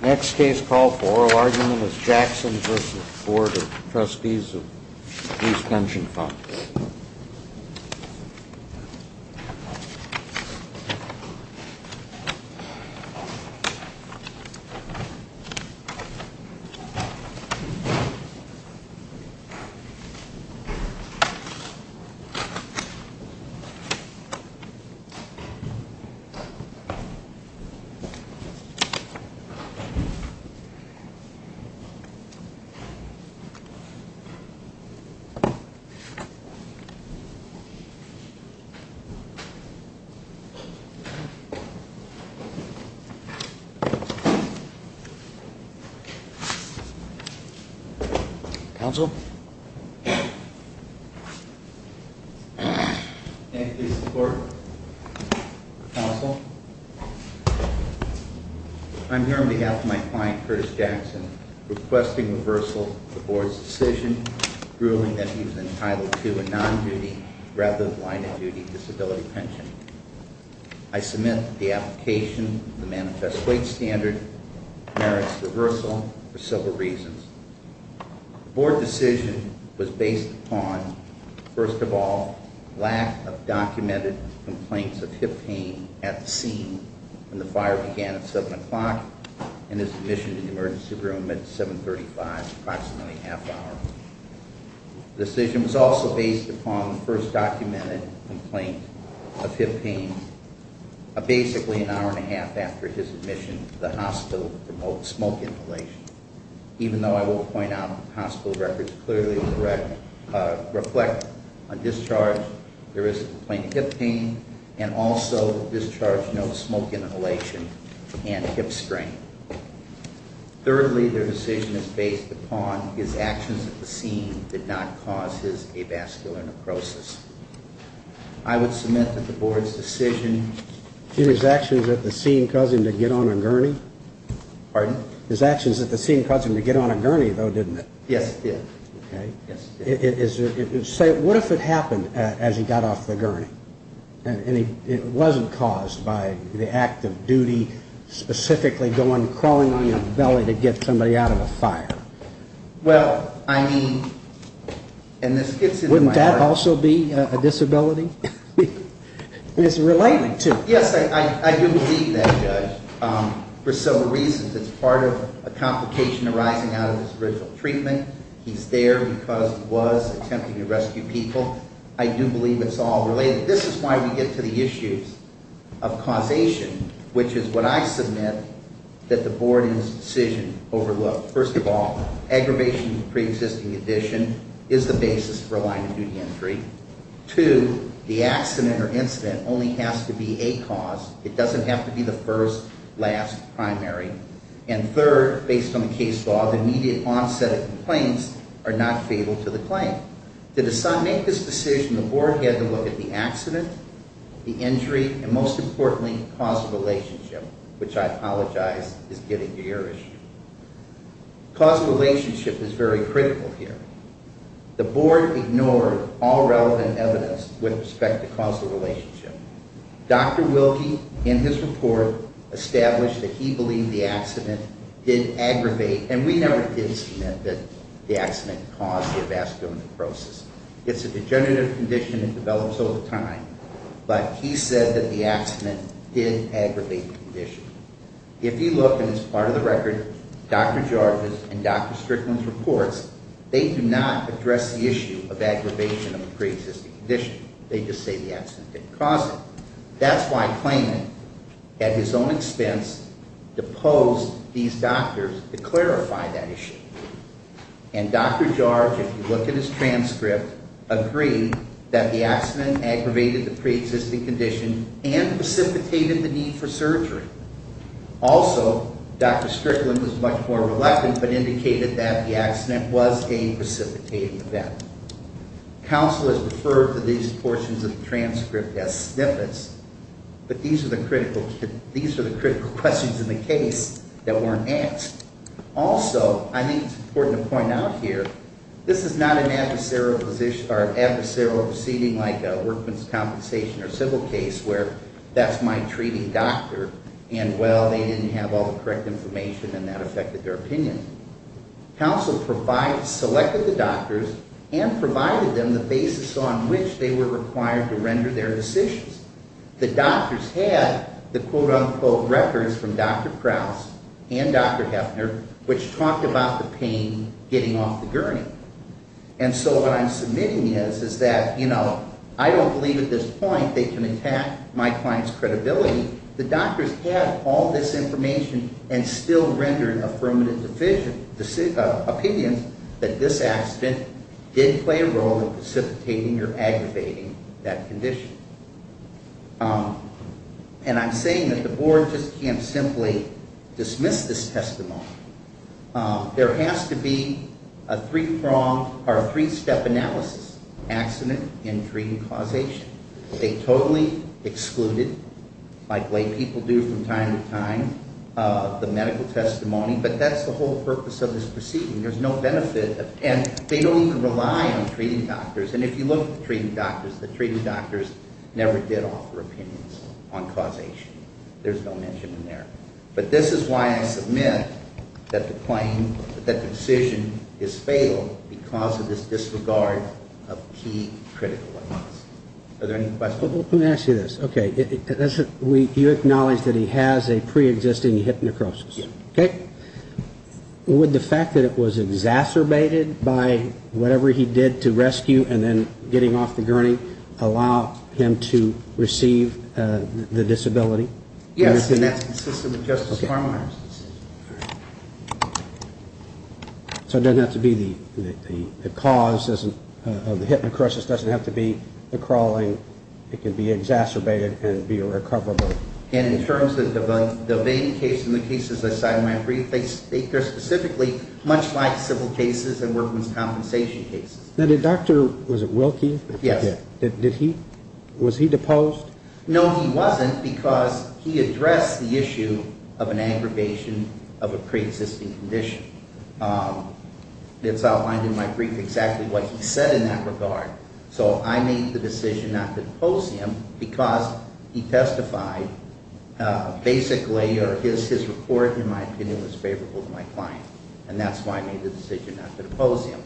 Next case call for oral argument is Jackson v. Board of Trustees of the Police Pension Fund. Before coming to this meeting to inform he would not be here for fair or included in his present statement of essa and my first death requesting reversal for his decision ruling that he was entitled to a non-duty rather line of duty disability pension. I submit the application, the manifest weight standard merits reversal for several reasons. Board decision was based on, first of all, lack of documented complaints of hip pain at the scene and the fire began at 7 o'clock and his admission to the emergency room at 735 approximately a half hour. Decision was also based upon the first documented complaint of hip pain. Basically an hour and a half after his admission to the hospital for smoke inhalation. Even though I will point out hospital records clearly reflect a discharge. So there is a complaint of hip pain and also discharge no smoke inhalation and hip strain. Thirdly, their decision is based upon his actions at the scene did not cause his avascular necrosis. I would submit that the board's decision. His actions at the scene caused him to get on a gurney? Pardon? His actions at the scene caused him to get on a gurney though, didn't it? Yes, it did. Okay. It is, say what if it happened as he got off the gurney? And it wasn't caused by the act of duty, specifically going, crawling on your belly to get somebody out of a fire? Well, I mean, and this gets into my heart. Wouldn't that also be a disability? I mean, it's related too. Yes, I do believe that, Judge. For several reasons. It's part of a complication arising out of his original treatment. He's there because he was attempting to rescue people. I do believe it's all related. This is why we get to the issues of causation, which is what I submit that the board in this decision overlooked. First of all, aggravation of a pre-existing condition is the basis for a line of duty entry. Two, the accident or incident only has to be a cause. It doesn't have to be the first, last, primary. And third, based on the case law, the immediate onset of complaints are not fatal to the claim. To make this decision, the board had to look at the accident, the injury, and most importantly, causal relationship, which I apologize is getting to your issue. Causal relationship is very critical here. The board ignored all relevant evidence with respect to causal relationship. Dr. Wilkie, in his report, established that he believed the accident did aggravate, and we never did submit that the accident caused the avascular necrosis. It's a degenerative condition, it develops over time. But he said that the accident did aggravate the condition. If you look, and it's part of the record, Dr. Jarvis and Dr. Strickland's reports, they do not address the issue of aggravation of a pre-existing condition. They just say the accident didn't cause it. That's why Klayman, at his own expense, deposed these doctors to clarify that issue. And Dr. Jarvis, if you look at his transcript, agreed that the accident aggravated the pre-existing condition and precipitated the need for surgery. Also, Dr. Strickland was much more reluctant, but indicated that the accident was a precipitating event. Counsel has referred to these portions of the transcript as snippets, but these are the critical questions in the case that weren't asked. Also, I think it's important to point out here, this is not an adversarial proceeding like a workman's compensation or civil case, where that's my treating doctor, and well, they didn't have all the correct information and that affected their opinion. Counsel selected the doctors and provided them the basis on which they were required to render their decisions. The doctors had the quote unquote records from Dr. Krause and Dr. Hefner, which talked about the pain getting off the gurney. And so what I'm submitting is, is that I don't believe at this point they can attack my client's credibility, the doctors had all this information and still render an affirmative opinion that this accident did play a role in precipitating or aggravating that condition. And I'm saying that the board just can't simply dismiss this testimony. There has to be a three-step analysis, accident, injury, and causation. They totally excluded, like lay people do from time to time, the medical testimony, but that's the whole purpose of this proceeding. There's no benefit, and they don't even rely on treating doctors. And if you look at the treating doctors, the treating doctors never did offer opinions on causation. There's no mention in there. But this is why I submit that the decision is fatal because of this disregard of key critical evidence. Are there any questions? Let me ask you this. Okay, you acknowledge that he has a pre-existing hypnecrosis. Okay. Would the fact that it was exacerbated by whatever he did to rescue and then getting off the gurney allow him to receive the disability? Yes, and that's consistent with Justice Farmer's decision, all right. So it doesn't have to be the cause of the hypnecrosis, doesn't have to be the crawling. It can be exacerbated and be a recoverable. And in terms of the vein case and the cases I cited in my brief, they're specifically much like civil cases and workman's compensation cases. Now did Dr., was it Wilkie? Yes. Did he, was he deposed? No, he wasn't because he addressed the issue of an aggravation of a pre-existing condition. It's outlined in my brief exactly what he said in that regard. So I made the decision not to depose him because he testified basically, or his report, in my opinion, was favorable to my client. And that's why I made the decision not to depose him.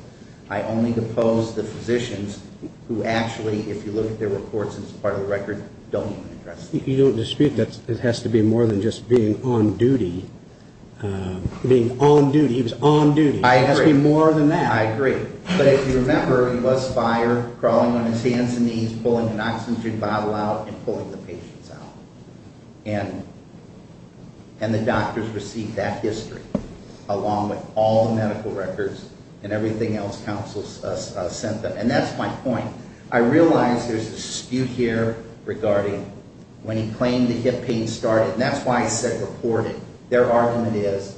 I only depose the physicians who actually, if you look at their reports, as part of the record, don't even address the issue. You don't dispute that it has to be more than just being on duty. He was on duty. I agree. It has to be more than that. I agree. But if you remember, he was fired, crawling on his hands and knees, pulling an oxygen bottle out, and pulling the patients out. And the doctors received that history, along with all the medical records and everything else counsel sent them. And that's my point. I realize there's a dispute here regarding when he claimed the hip pain started. And that's why I said reported. Their argument is,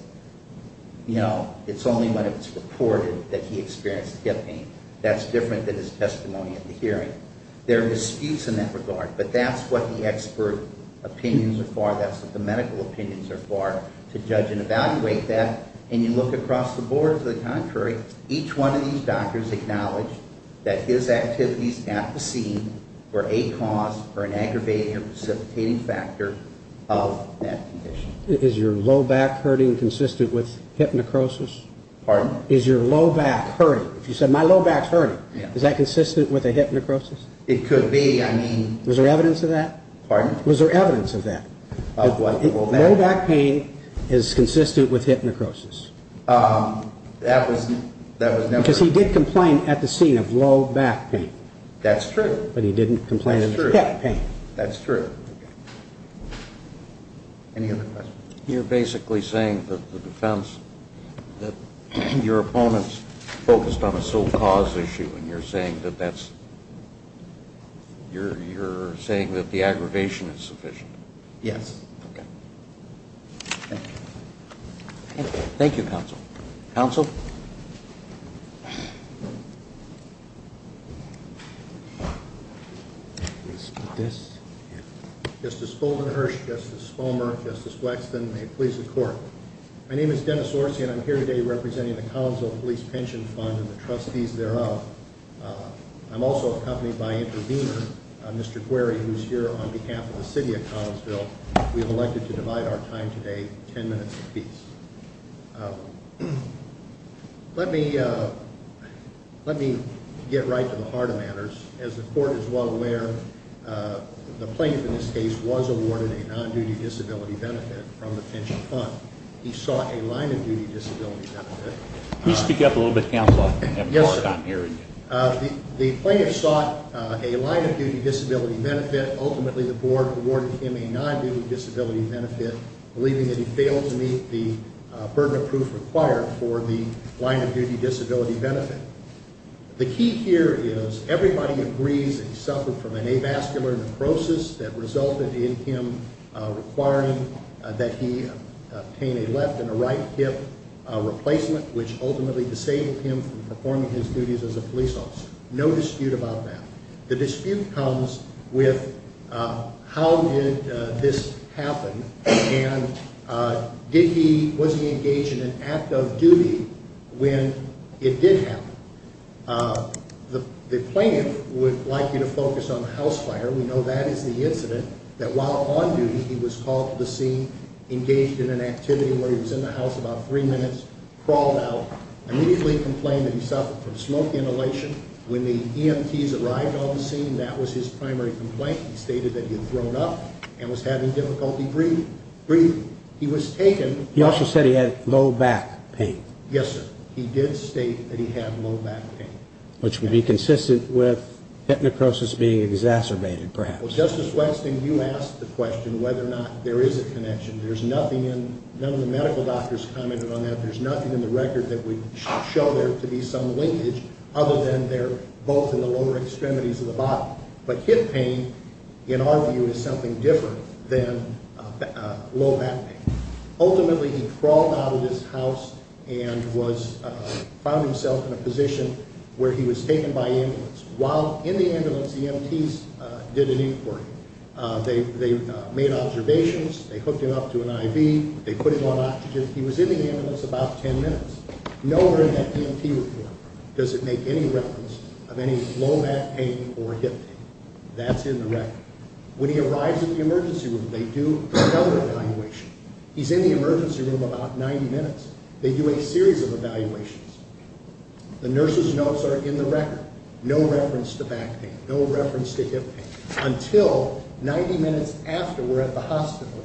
you know, it's only when it's reported that he experienced hip pain. That's different than his testimony at the hearing. There are disputes in that regard. But that's what the expert opinions are for. That's what the medical opinions are for, to judge and evaluate that. And you look across the board, to the contrary, each one of these doctors acknowledged that his activities at the scene were a cause for an aggravating or precipitating factor of that condition. Is your low back hurting consistent with hip necrosis? Pardon? Is your low back hurting? You said, my low back's hurting. Is that consistent with a hip necrosis? It could be. I mean... Was there evidence of that? Pardon? Was there evidence of that? Of what? Low back pain is consistent with hip necrosis. That was never... Because he did complain at the scene of low back pain. That's true. But he didn't complain of hip pain. That's true. Any other questions? You're basically saying that the defense... That your opponent's focused on a sole cause issue and you're saying that that's... You're saying that the aggravation is sufficient. Yes. Okay. Thank you. Thank you, counsel. Counsel? Is this... Yeah. Justice Fulgenhersh, Justice Bomer, Justice Wexton, may it please the court. My name is Dennis Orsi and I'm here today representing the Collinsville Police Pension Fund and the trustees thereof. I'm also accompanied by intervener, Mr. Querry, who's here on behalf of the city of Collinsville. We have elected to divide our time today, 10 minutes apiece. Let me... Let me get right to the heart of matters. As the court is well aware, the plaintiff in this case was awarded a non-duty disability benefit from the pension fund. He sought a line-of-duty disability benefit. Can you speak up a little bit, counsel? Yes. The plaintiff sought a line-of-duty disability benefit. Ultimately, the board awarded him a non-duty disability benefit, believing that he failed to meet the burden of proof required for the line-of-duty disability benefit. The key here is everybody agrees that he suffered from an avascular necrosis that resulted in him requiring that he obtain a left and a right hip replacement, which ultimately disabled him from performing his duties as a police officer. No dispute about that. The dispute comes with how did this happen and did he... Was he engaged in an act of duty when it did happen? The plaintiff would like you to focus on the house fire. We know that is the incident that while on duty, he was called to the scene, engaged in an activity where he was in the house about three minutes, crawled out, immediately complained that he suffered from smoke inhalation. When the EMTs arrived on the scene, that was his primary complaint. He stated that he had thrown up and was having difficulty breathing. He was taken... He also said he had low back pain. Yes, sir. He did state that he had low back pain. Which would be consistent with hip necrosis being exacerbated, perhaps. Justice Westing, you asked the question whether or not there is a connection. There's nothing in... None of the medical doctors commented on that. There's nothing in the record that would show there to be some linkage other than they're both in the lower extremities of the body. But hip pain, in our view, is something different than low back pain. Ultimately, he crawled out of his house and found himself in a position where he was taken by ambulance. While in the ambulance, the EMTs did an inquiry. They made observations. They hooked him up to an IV. They put him on oxygen. He was in the ambulance about ten minutes. Nowhere in that EMT report does it make any reference of any low back pain or hip pain. That's in the record. When he arrives in the emergency room, they do another evaluation. He's in the emergency room about 90 minutes. They do a series of evaluations. The nurse's notes are in the record. No reference to back pain. No reference to hip pain. Until 90 minutes after we're at the hospital,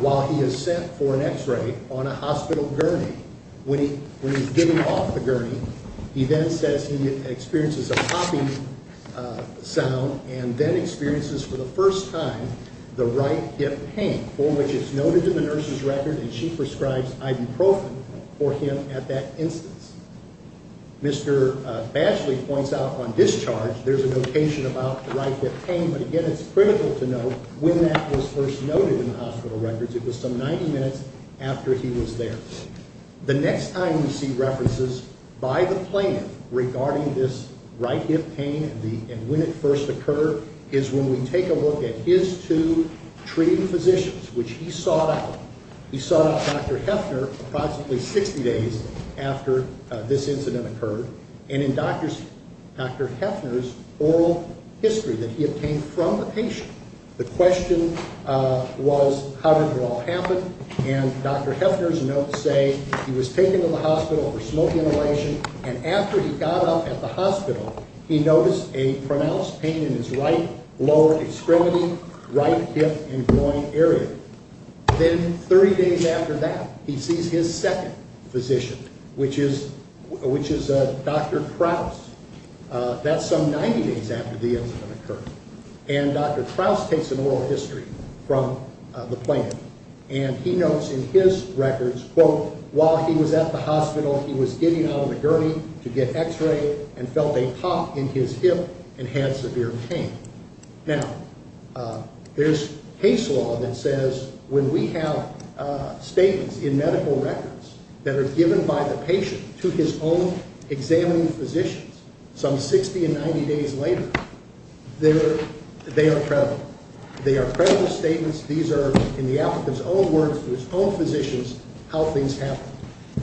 while he is set for an x-ray on a hospital gurney. When he's given off the gurney, he then says he experiences a popping sound and then experiences for the first time the right hip pain, for which it's noted in the nurse's record and she prescribes ibuprofen for him at that instance. Mr. Bashley points out on discharge, there's a notation about the right hip pain, but again, it's critical to note when that was first noted in the hospital records. It was some 90 minutes after he was there. The next time we see references by the plaintiff regarding this right hip pain and when it first occurred is when we take a look at his two treating physicians, which he sought out. He sought out Dr. Hefner approximately 60 days after this incident occurred. And in Dr. Hefner's oral history that he obtained from the patient, the question was, how did it all happen? And Dr. Hefner's notes say he was taken to the hospital for smoke inhalation and after he got up at the hospital, he noticed a pronounced pain in his right lower extremity, right hip and groin area. Then 30 days after that, he sees his second physician, which is Dr. Trous. That's some 90 days after the incident occurred. And Dr. Trous takes an oral history from the plaintiff and he notes in his records, quote, while he was at the hospital, he was getting out of the gurney to get x-rayed and felt a pop in his hip and had severe pain. Now, there's case law that says when we have statements in medical records that are given by the patient to his own examining physicians some 60 and 90 days later, they are credible. They are credible statements. These are, in the applicant's own words, to his own physicians, how things happened.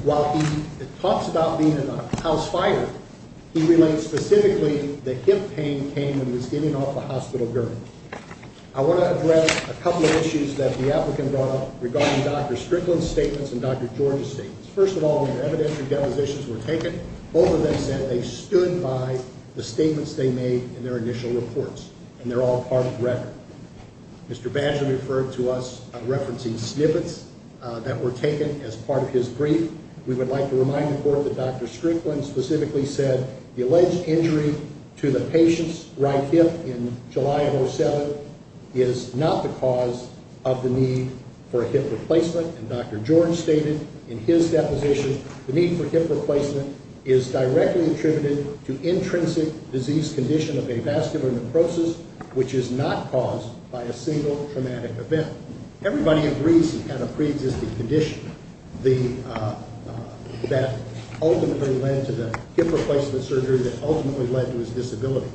While he talks about being a house fighter, he relates specifically the hip pain came when he was getting off the hospital gurney. I want to address a couple of issues that the applicant brought up regarding Dr. Strickland's statements and Dr. George's statements. First of all, their evidentiary delusions were taken. Both of them said they stood by the statements they made in their initial reports and they're all part of the record. Mr. Badger referred to us referencing snippets that were taken as part of his brief. We would like to remind the court that Dr. Strickland specifically said the alleged injury to the patient's right hip in July of 2007 is not the cause of the need for a hip replacement. And Dr. George stated in his deposition the need for hip replacement is directly attributed to intrinsic disease condition of avascular necrosis, which is not caused by a single traumatic event. Everybody agrees he had a pre-existing condition that ultimately led to the hip replacement surgery, that ultimately led to his disability.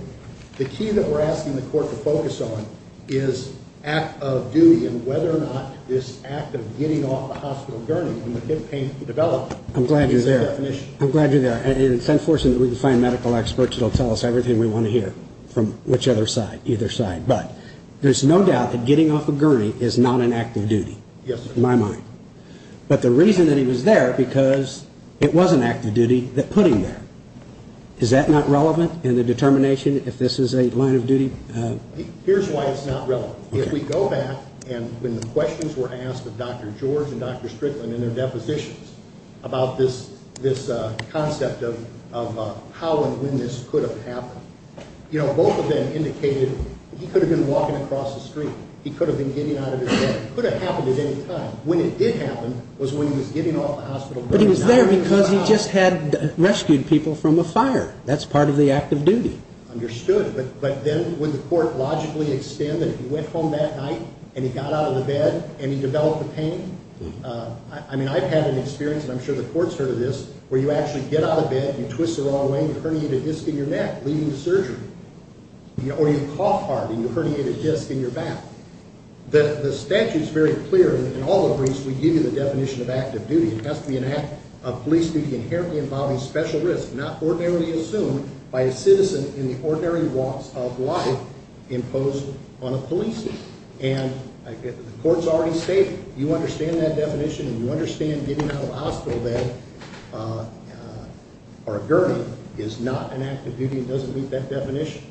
The key that we're asking the court to focus on is act of duty and whether or not this act of getting off the hospital gurney when the hip pain developed is the definition. I'm glad you're there. It's unfortunate that we can find medical experts that will tell us everything we want to hear from which other side, either side. But there's no doubt that getting off a gurney is not an act of duty, in my mind. But the reason that he was there because it was an act of duty that put him there. Is that not relevant in the determination if this is a line of duty? Here's why it's not relevant. If we go back and when the questions were asked of Dr. George and Dr. Strickland in their depositions about this concept of how and when this could have happened, you know, both of them indicated he could have been walking across the street. He could have been getting out of his bed. It could have happened at any time. When it did happen was when he was getting off the hospital gurney. But he was there because he just had rescued people from a fire. That's part of the act of duty. Understood, but then would the court logically extend that he went home that night and he got out of the bed and he developed the pain? I mean, I've had an experience, and I'm sure the court's heard of this, where you actually get out of bed, you twist the wrong way, and you herniate a disc in your neck leading to surgery. Or you cough hard and you herniate a disc in your back. The statute's very clear in all the briefs we give you the definition of act of duty. It has to be an act of police duty inherently involving special risk not ordinarily assumed by a citizen in the ordinary walks of life imposed on a police officer. And the court's already stated you understand that definition and you understand getting out of a hospital bed or a gurney is not an act of duty. It doesn't meet that definition.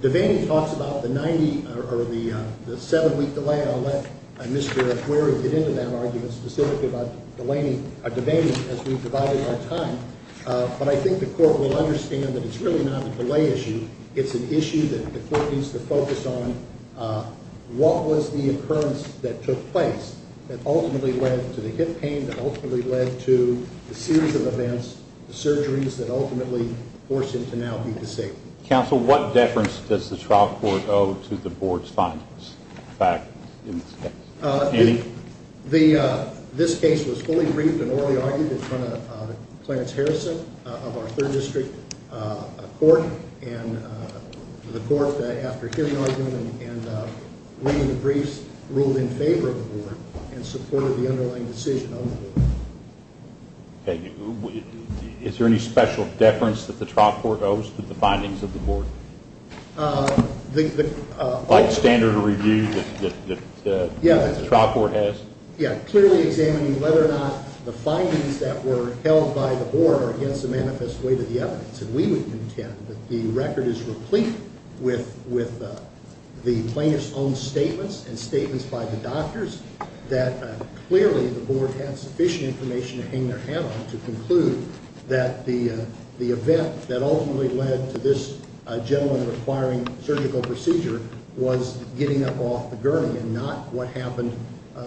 Devaney talks about the 7-week delay. I'll let Mr. McQuarrie get into that argument specifically about Devaney as we've divided our time. But I think the court will understand that it's really not a delay issue. It's an issue that the court needs to focus on. What was the occurrence that took place that ultimately led to the hip pain, that ultimately led to the series of events, the surgeries that ultimately forced him to now be disabled? Counsel, what deference does the trial court owe to the board's findings? This case was fully briefed and orally argued in front of Clarence Harrison of our 3rd District Court. And the court, after hearing the argument and reading the briefs, ruled in favor of the board and supported the underlying decision on the board. Is there any special deference that the trial court owes to the findings of the board? Like standard review that the trial court has? Yeah, clearly examining whether or not the findings that were held by the board are against the manifest weight of the evidence. And we would intend that the record is replete with the plaintiff's own statements and statements by the doctors that clearly the board had sufficient information to hang their hat on to conclude that the event that ultimately led to this gentleman requiring surgical procedure was getting up off the gurney and not what happened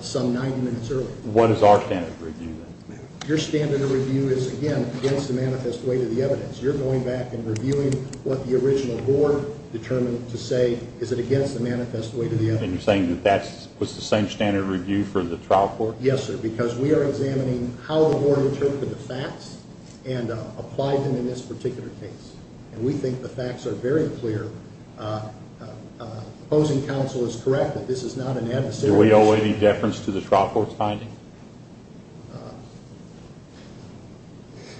some 90 minutes earlier. What is our standard review then? Your standard review is, again, against the manifest weight of the evidence. You're going back and reviewing what the original board determined to say. Is it against the manifest weight of the evidence? And you're saying that that was the same standard review for the trial court? Yes, sir, because we are examining how the board interpreted the facts and applied them in this particular case. And we think the facts are very clear. Opposing counsel is correct that this is not an adversarial... Do we owe any deference to the trial court's findings?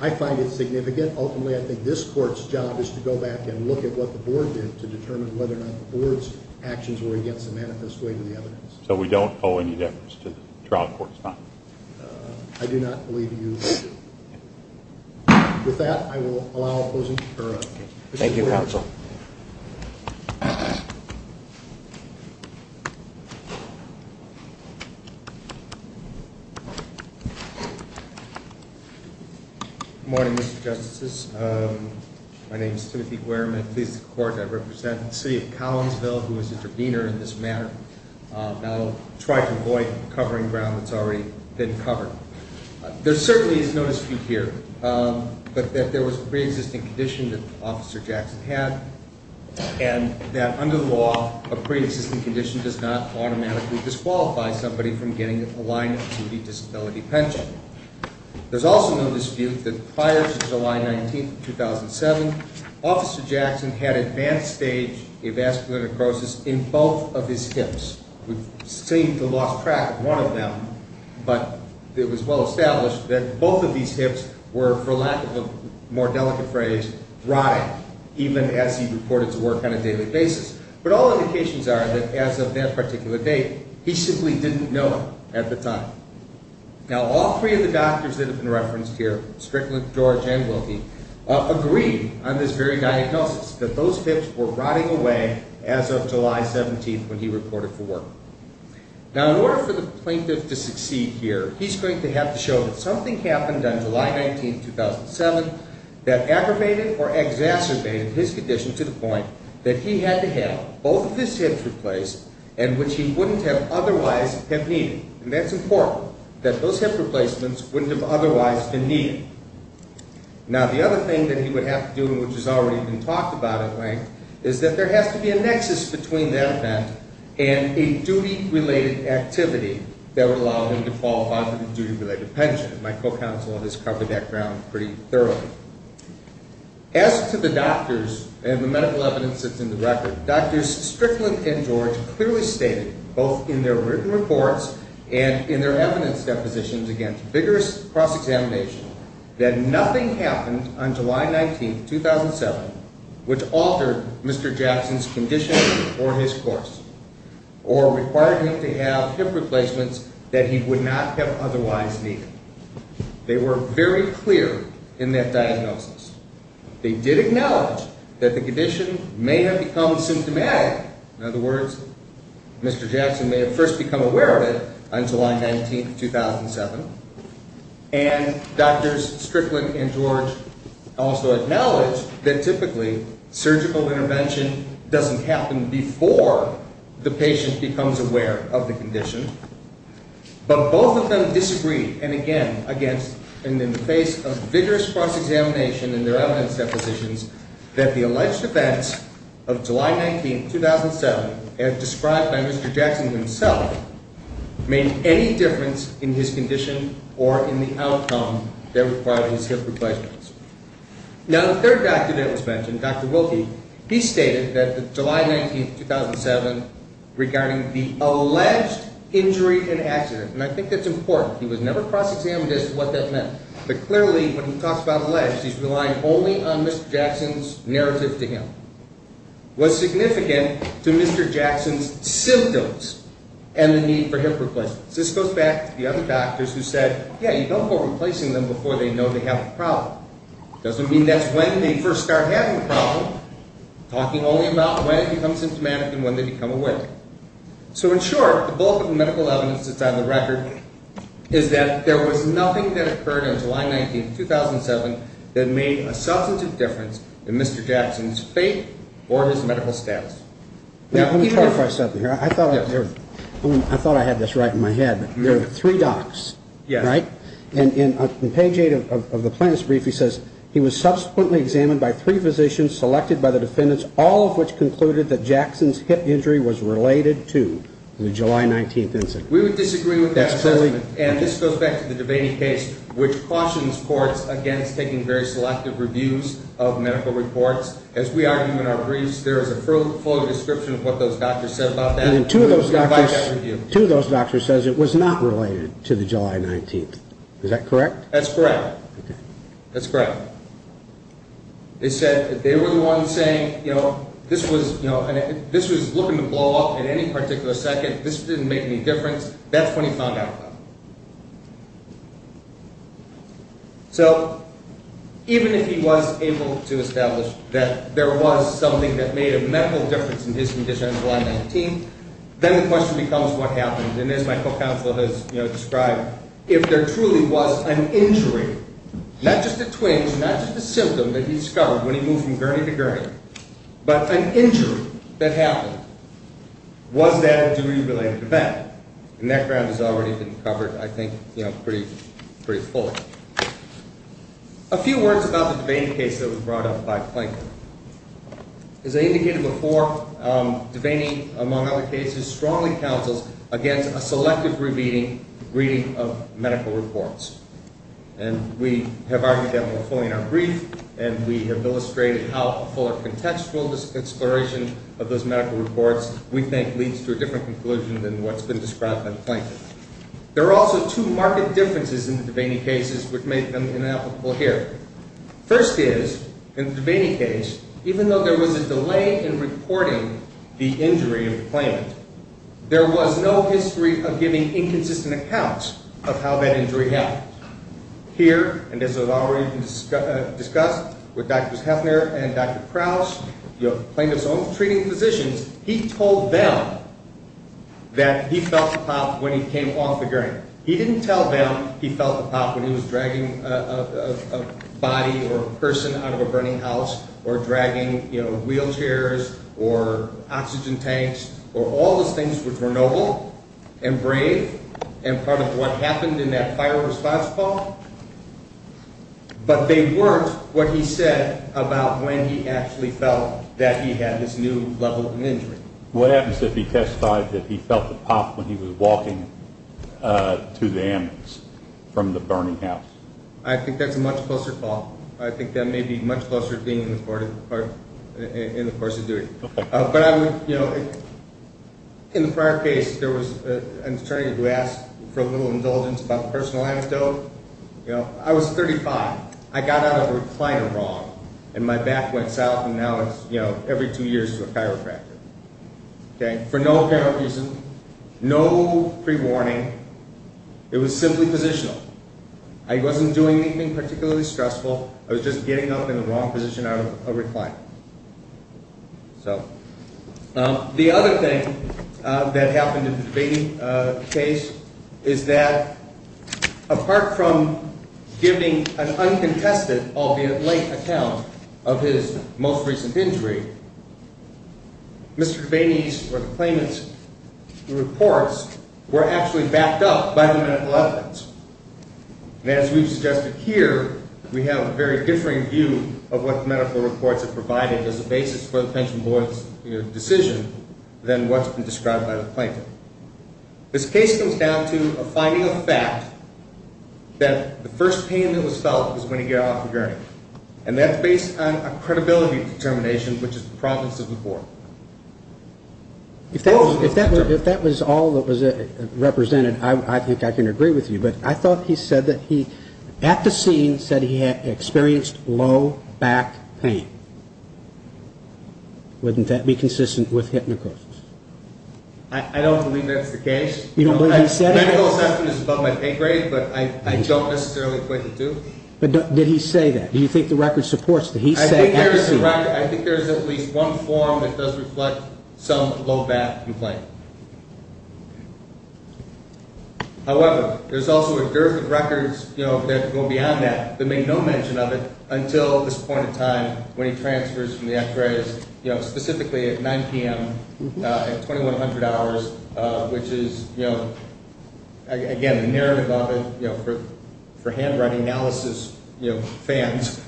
I find it significant. Ultimately, I think this court's job is to go back and look at what the board did to determine whether or not the board's actions were against the manifest weight of the evidence. So we don't owe any deference to the trial court's findings? I do not believe you do. With that, I will allow opposing... Thank you, counsel. Good morning, Mr. Justices. My name is Timothy Guerman. I represent the city of Collinsville, who is the intervener in this matter. I'll try to avoid covering ground that's already been covered. There certainly is no dispute here that there was a pre-existing condition that Officer Jackson had and that under the law, a pre-existing condition does not automatically disqualify somebody from getting a line-of-duty disability pension. There's also no dispute that prior to July 19, 2007, Officer Jackson had advanced-stage avascular necrosis in both of his hips. We've seemed to have lost track of one of them, but it was well established that both of these hips were, for lack of a more delicate phrase, rotting, even as he reported to work on a daily basis. But all indications are that as of that particular date, he simply didn't know at the time. Now, all three of the doctors that have been referenced here, Strickland, George, and Wilkie, agreed on this very diagnosis, that those hips were rotting away as of July 17, when he reported for work. Now, in order for the plaintiff to succeed here, he's going to have to show that something happened on July 19, 2007 that aggravated or exacerbated his condition to the point that he had to have both of his hips replaced and which he wouldn't have otherwise have needed. And that's important, that those hip replacements wouldn't have otherwise been needed. Now, the other thing that he would have to do, and which has already been talked about at length, is that there has to be a nexus between that event and a duty-related activity that would allow him to fall under the duty-related pension. My co-counsel has covered that ground pretty thoroughly. As to the doctors and the medical evidence that's in the record, Drs. Strickland and George clearly stated, both in their written reports and in their evidence depositions against vigorous cross-examination, that nothing happened on July 19, 2007 which altered Mr. Jackson's condition or his course or required him to have hip replacements that he would not have otherwise needed. They were very clear in that diagnosis. They did acknowledge that the condition may have become symptomatic. In other words, Mr. Jackson may have first become aware of it on July 19, 2007. And Drs. Strickland and George also acknowledged that typically surgical intervention doesn't happen before the patient becomes aware of the condition. But both of them disagreed, and again, in the face of vigorous cross-examination and their evidence depositions, that the alleged events of July 19, 2007 as described by Mr. Jackson himself made any difference in his condition or in the outcome that required his hip replacements. Now, the third doctor that was mentioned, Dr. Wilkie, he stated that July 19, 2007 regarding the alleged injury and accident, and I think that's important. He was never cross-examined as to what that meant. But clearly, when he talks about alleged, he's relying only on Mr. Jackson's narrative to him. What's significant to Mr. Jackson's symptoms and the need for hip replacements? This goes back to the other doctors who said, yeah, you don't go replacing them before they know they have a problem. Doesn't mean that's when they first start having a problem, talking only about when it becomes symptomatic and when they become aware. So in short, the bulk of the medical evidence that's on the record is that there was nothing that occurred on July 19, 2007 that made a substantive difference in Mr. Jackson's fate or his medical status. Let me clarify something here. I thought I had this right in my head. There are three docs, right? In page 8 of the plaintiff's brief, he says he was subsequently examined by three physicians selected by the defendants, all of which concluded that Jackson's hip injury was related to the July 19 incident. We would disagree with that assessment. And this goes back to the Devaney case, which cautions courts against taking very selective reviews of medical reports. As we argue in our briefs, there is a full description of what those doctors said about that. Two of those doctors says it was not related to the July 19. Is that correct? That's correct. They said they were the ones saying, you know, this was looking to blow up at any particular second. This didn't make any difference. That's when he found out about it. So even if he was able to establish that there was something that made a medical difference in his condition on July 19, then the question becomes what happened. And as my co-counsel has described, if there truly was an injury, not just a twinge, not just a symptom that he discovered when he moved from gurney to gurney, but an injury that happened, was that a degree-related event? And that ground has already been covered, I think, pretty fully. A few words about the Devaney case that was brought up by Plank. As I indicated before, Devaney, among other cases, strongly counsels against a selective reading of medical reports. And we have argued that more fully in our brief, and we have illustrated how a fuller contextual exploration of those medical reports we think leads to a different conclusion than what's been described by Plank. There are also two marked differences in the Devaney cases which make them inapplicable here. First is, in the Devaney case, even though there was a delay in reporting the injury in the claimant, there was no history of giving inconsistent accounts of how that injury happened. Here, and as has already been discussed with Drs. Heffner and Dr. Kraus, Plank of his own treating physicians, he told them that he felt the pop when he came off the gurney. He didn't tell them he felt the pop when he was dragging a body or a person out of a burning house or dragging wheelchairs or oxygen tanks or all those things which were noble and brave and part of what happened in that fire response call. But they weren't what he said about when he actually felt that he had this new level of injury. What happens if he testified that he felt the pop when he was walking to the ambulance from the burning house? I think that's a much closer call. I think that may be much closer in the course of duty. In the prior case, there was an attorney who asked for a little indulgence about the personal anecdote. I was 35. I got out of a recliner wrong and my back went south every two years to a chiropractor. For no apparent reason, no pre-warning. It was simply positional. I wasn't doing anything particularly stressful. I was just getting up in the wrong position out of a recliner. The other thing that happened in the debating case is that apart from giving an uncontested, albeit late, account of his most recent injury, Mr. Kabanese or the claimant's reports were actually backed up by the medical evidence. As we've suggested here, we have a very differing view of what the medical reports have provided as a basis for the pension board's decision than what's been described by the plaintiff. This case comes down to a finding of fact that the first pain that was felt was when he got off a gurney. And that's based on a credibility determination which is the province of Newport. If that was all that was represented, I think I can agree with you. But I thought he said that he, at the scene, said he had experienced low back pain. Wouldn't that be consistent with hypnocrisis? I don't believe that's the case. Medical assessment is above my pay grade, but I don't necessarily equate the two. But did he say that? I think there's at least one form that does reflect some low back complaint. However, there's also a dearth of records that go beyond that, that make no mention of it until this point in time when he transfers from the x-rays, specifically at 9 p.m., at 2100 hours, which is, again, the narrative of it. For handwriting analysis fans,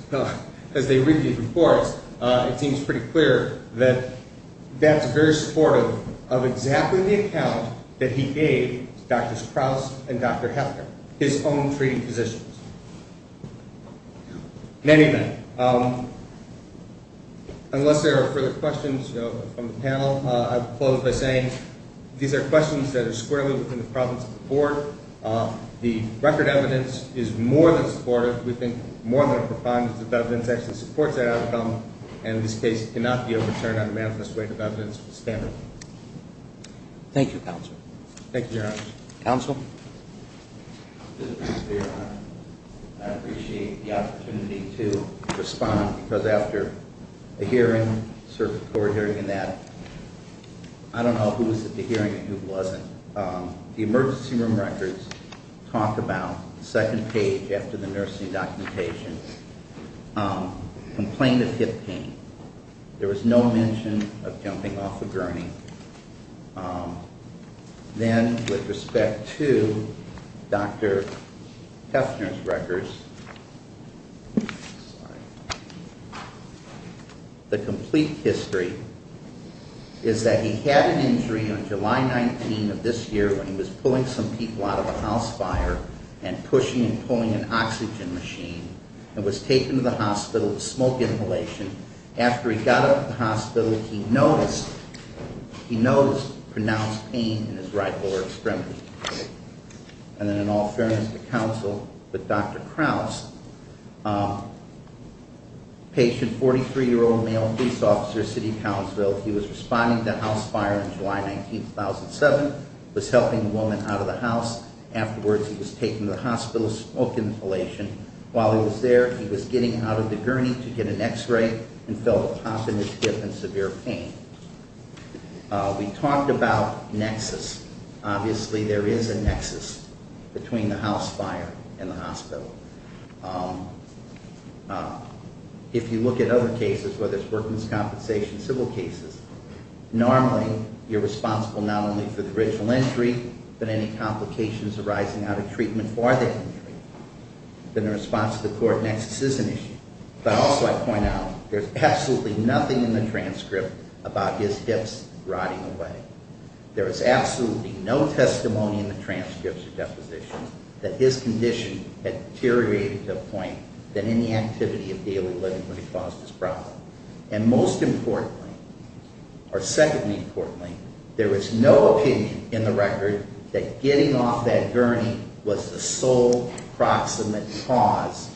as they read these reports, it seems pretty clear that that's very supportive of exactly the account that he gave Dr. Sprouse and Dr. Hefner, his own treating physicians. In any event, unless there are further questions from the panel, I'll close by saying these are questions that are squarely within the province of the court. The record evidence is more than supportive. We think more than a profoundness of evidence actually supports that outcome, and in this case, it cannot be overturned by a unanimous weight of evidence. Thank you, counsel. Counsel? I appreciate the opportunity to respond because after a hearing, I don't know who was at the hearing and who wasn't. The emergency room records talk about, second page after the nursing documentation, complaint of hip pain. There was no mention of jumping off a gurney. Then, with respect to Dr. Hefner's records, the complete history is that he had an injury on July 19 of this year when he was pulling some people out of a house fire and pushing and pulling an oxygen machine and was taken to the hospital with smoke inhalation. After he got out of the hospital, he noticed pronounced pain in his right lower extremity. And then, in all fairness to counsel, with Dr. Krause, patient, 43-year-old male police officer, he was responding to a house fire on July 19, 2007, was helping a woman out of the house. Afterwards, he was taken to the hospital with smoke inhalation while he was there, he was getting out of the gurney to get an x-ray and felt a pop in his hip and severe pain. We talked about nexus. Obviously, there is a nexus between the house fire and the hospital. If you look at other cases, whether it's workman's compensation, civil cases, normally you're responsible not only for the original injury but any complications arising out of treatment for that injury. In response to the court, nexus is an issue. But also, I point out, there's absolutely nothing in the transcript about his hips rotting away. There is absolutely no testimony in the transcripts or depositions that his condition had deteriorated to the point that any activity of daily living would have caused this problem. And most importantly, or secondly importantly, there is no opinion in the record that getting off that gurney was the sole proximate cause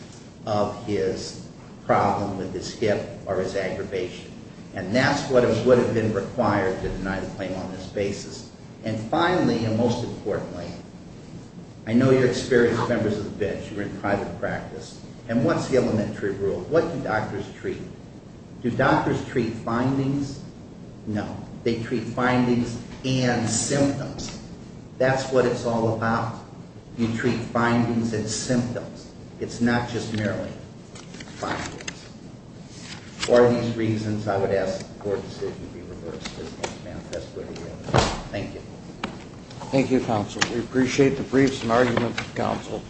of his problem with his hip or his aggravation. And that's what would have been required to deny the claim on this basis. And finally, and most importantly, I know you're experienced members of the bench, you're in private practice, and what's the elementary rule? What do doctors treat? Do doctors treat findings? No. They treat findings and symptoms. That's what it's all about. You treat findings and symptoms. It's not just merely findings. For these reasons, I would ask that the court decision be reversed as can be manifest for the hearing. Thank you. Thank you, counsel. We appreciate the briefs and arguments of counsel.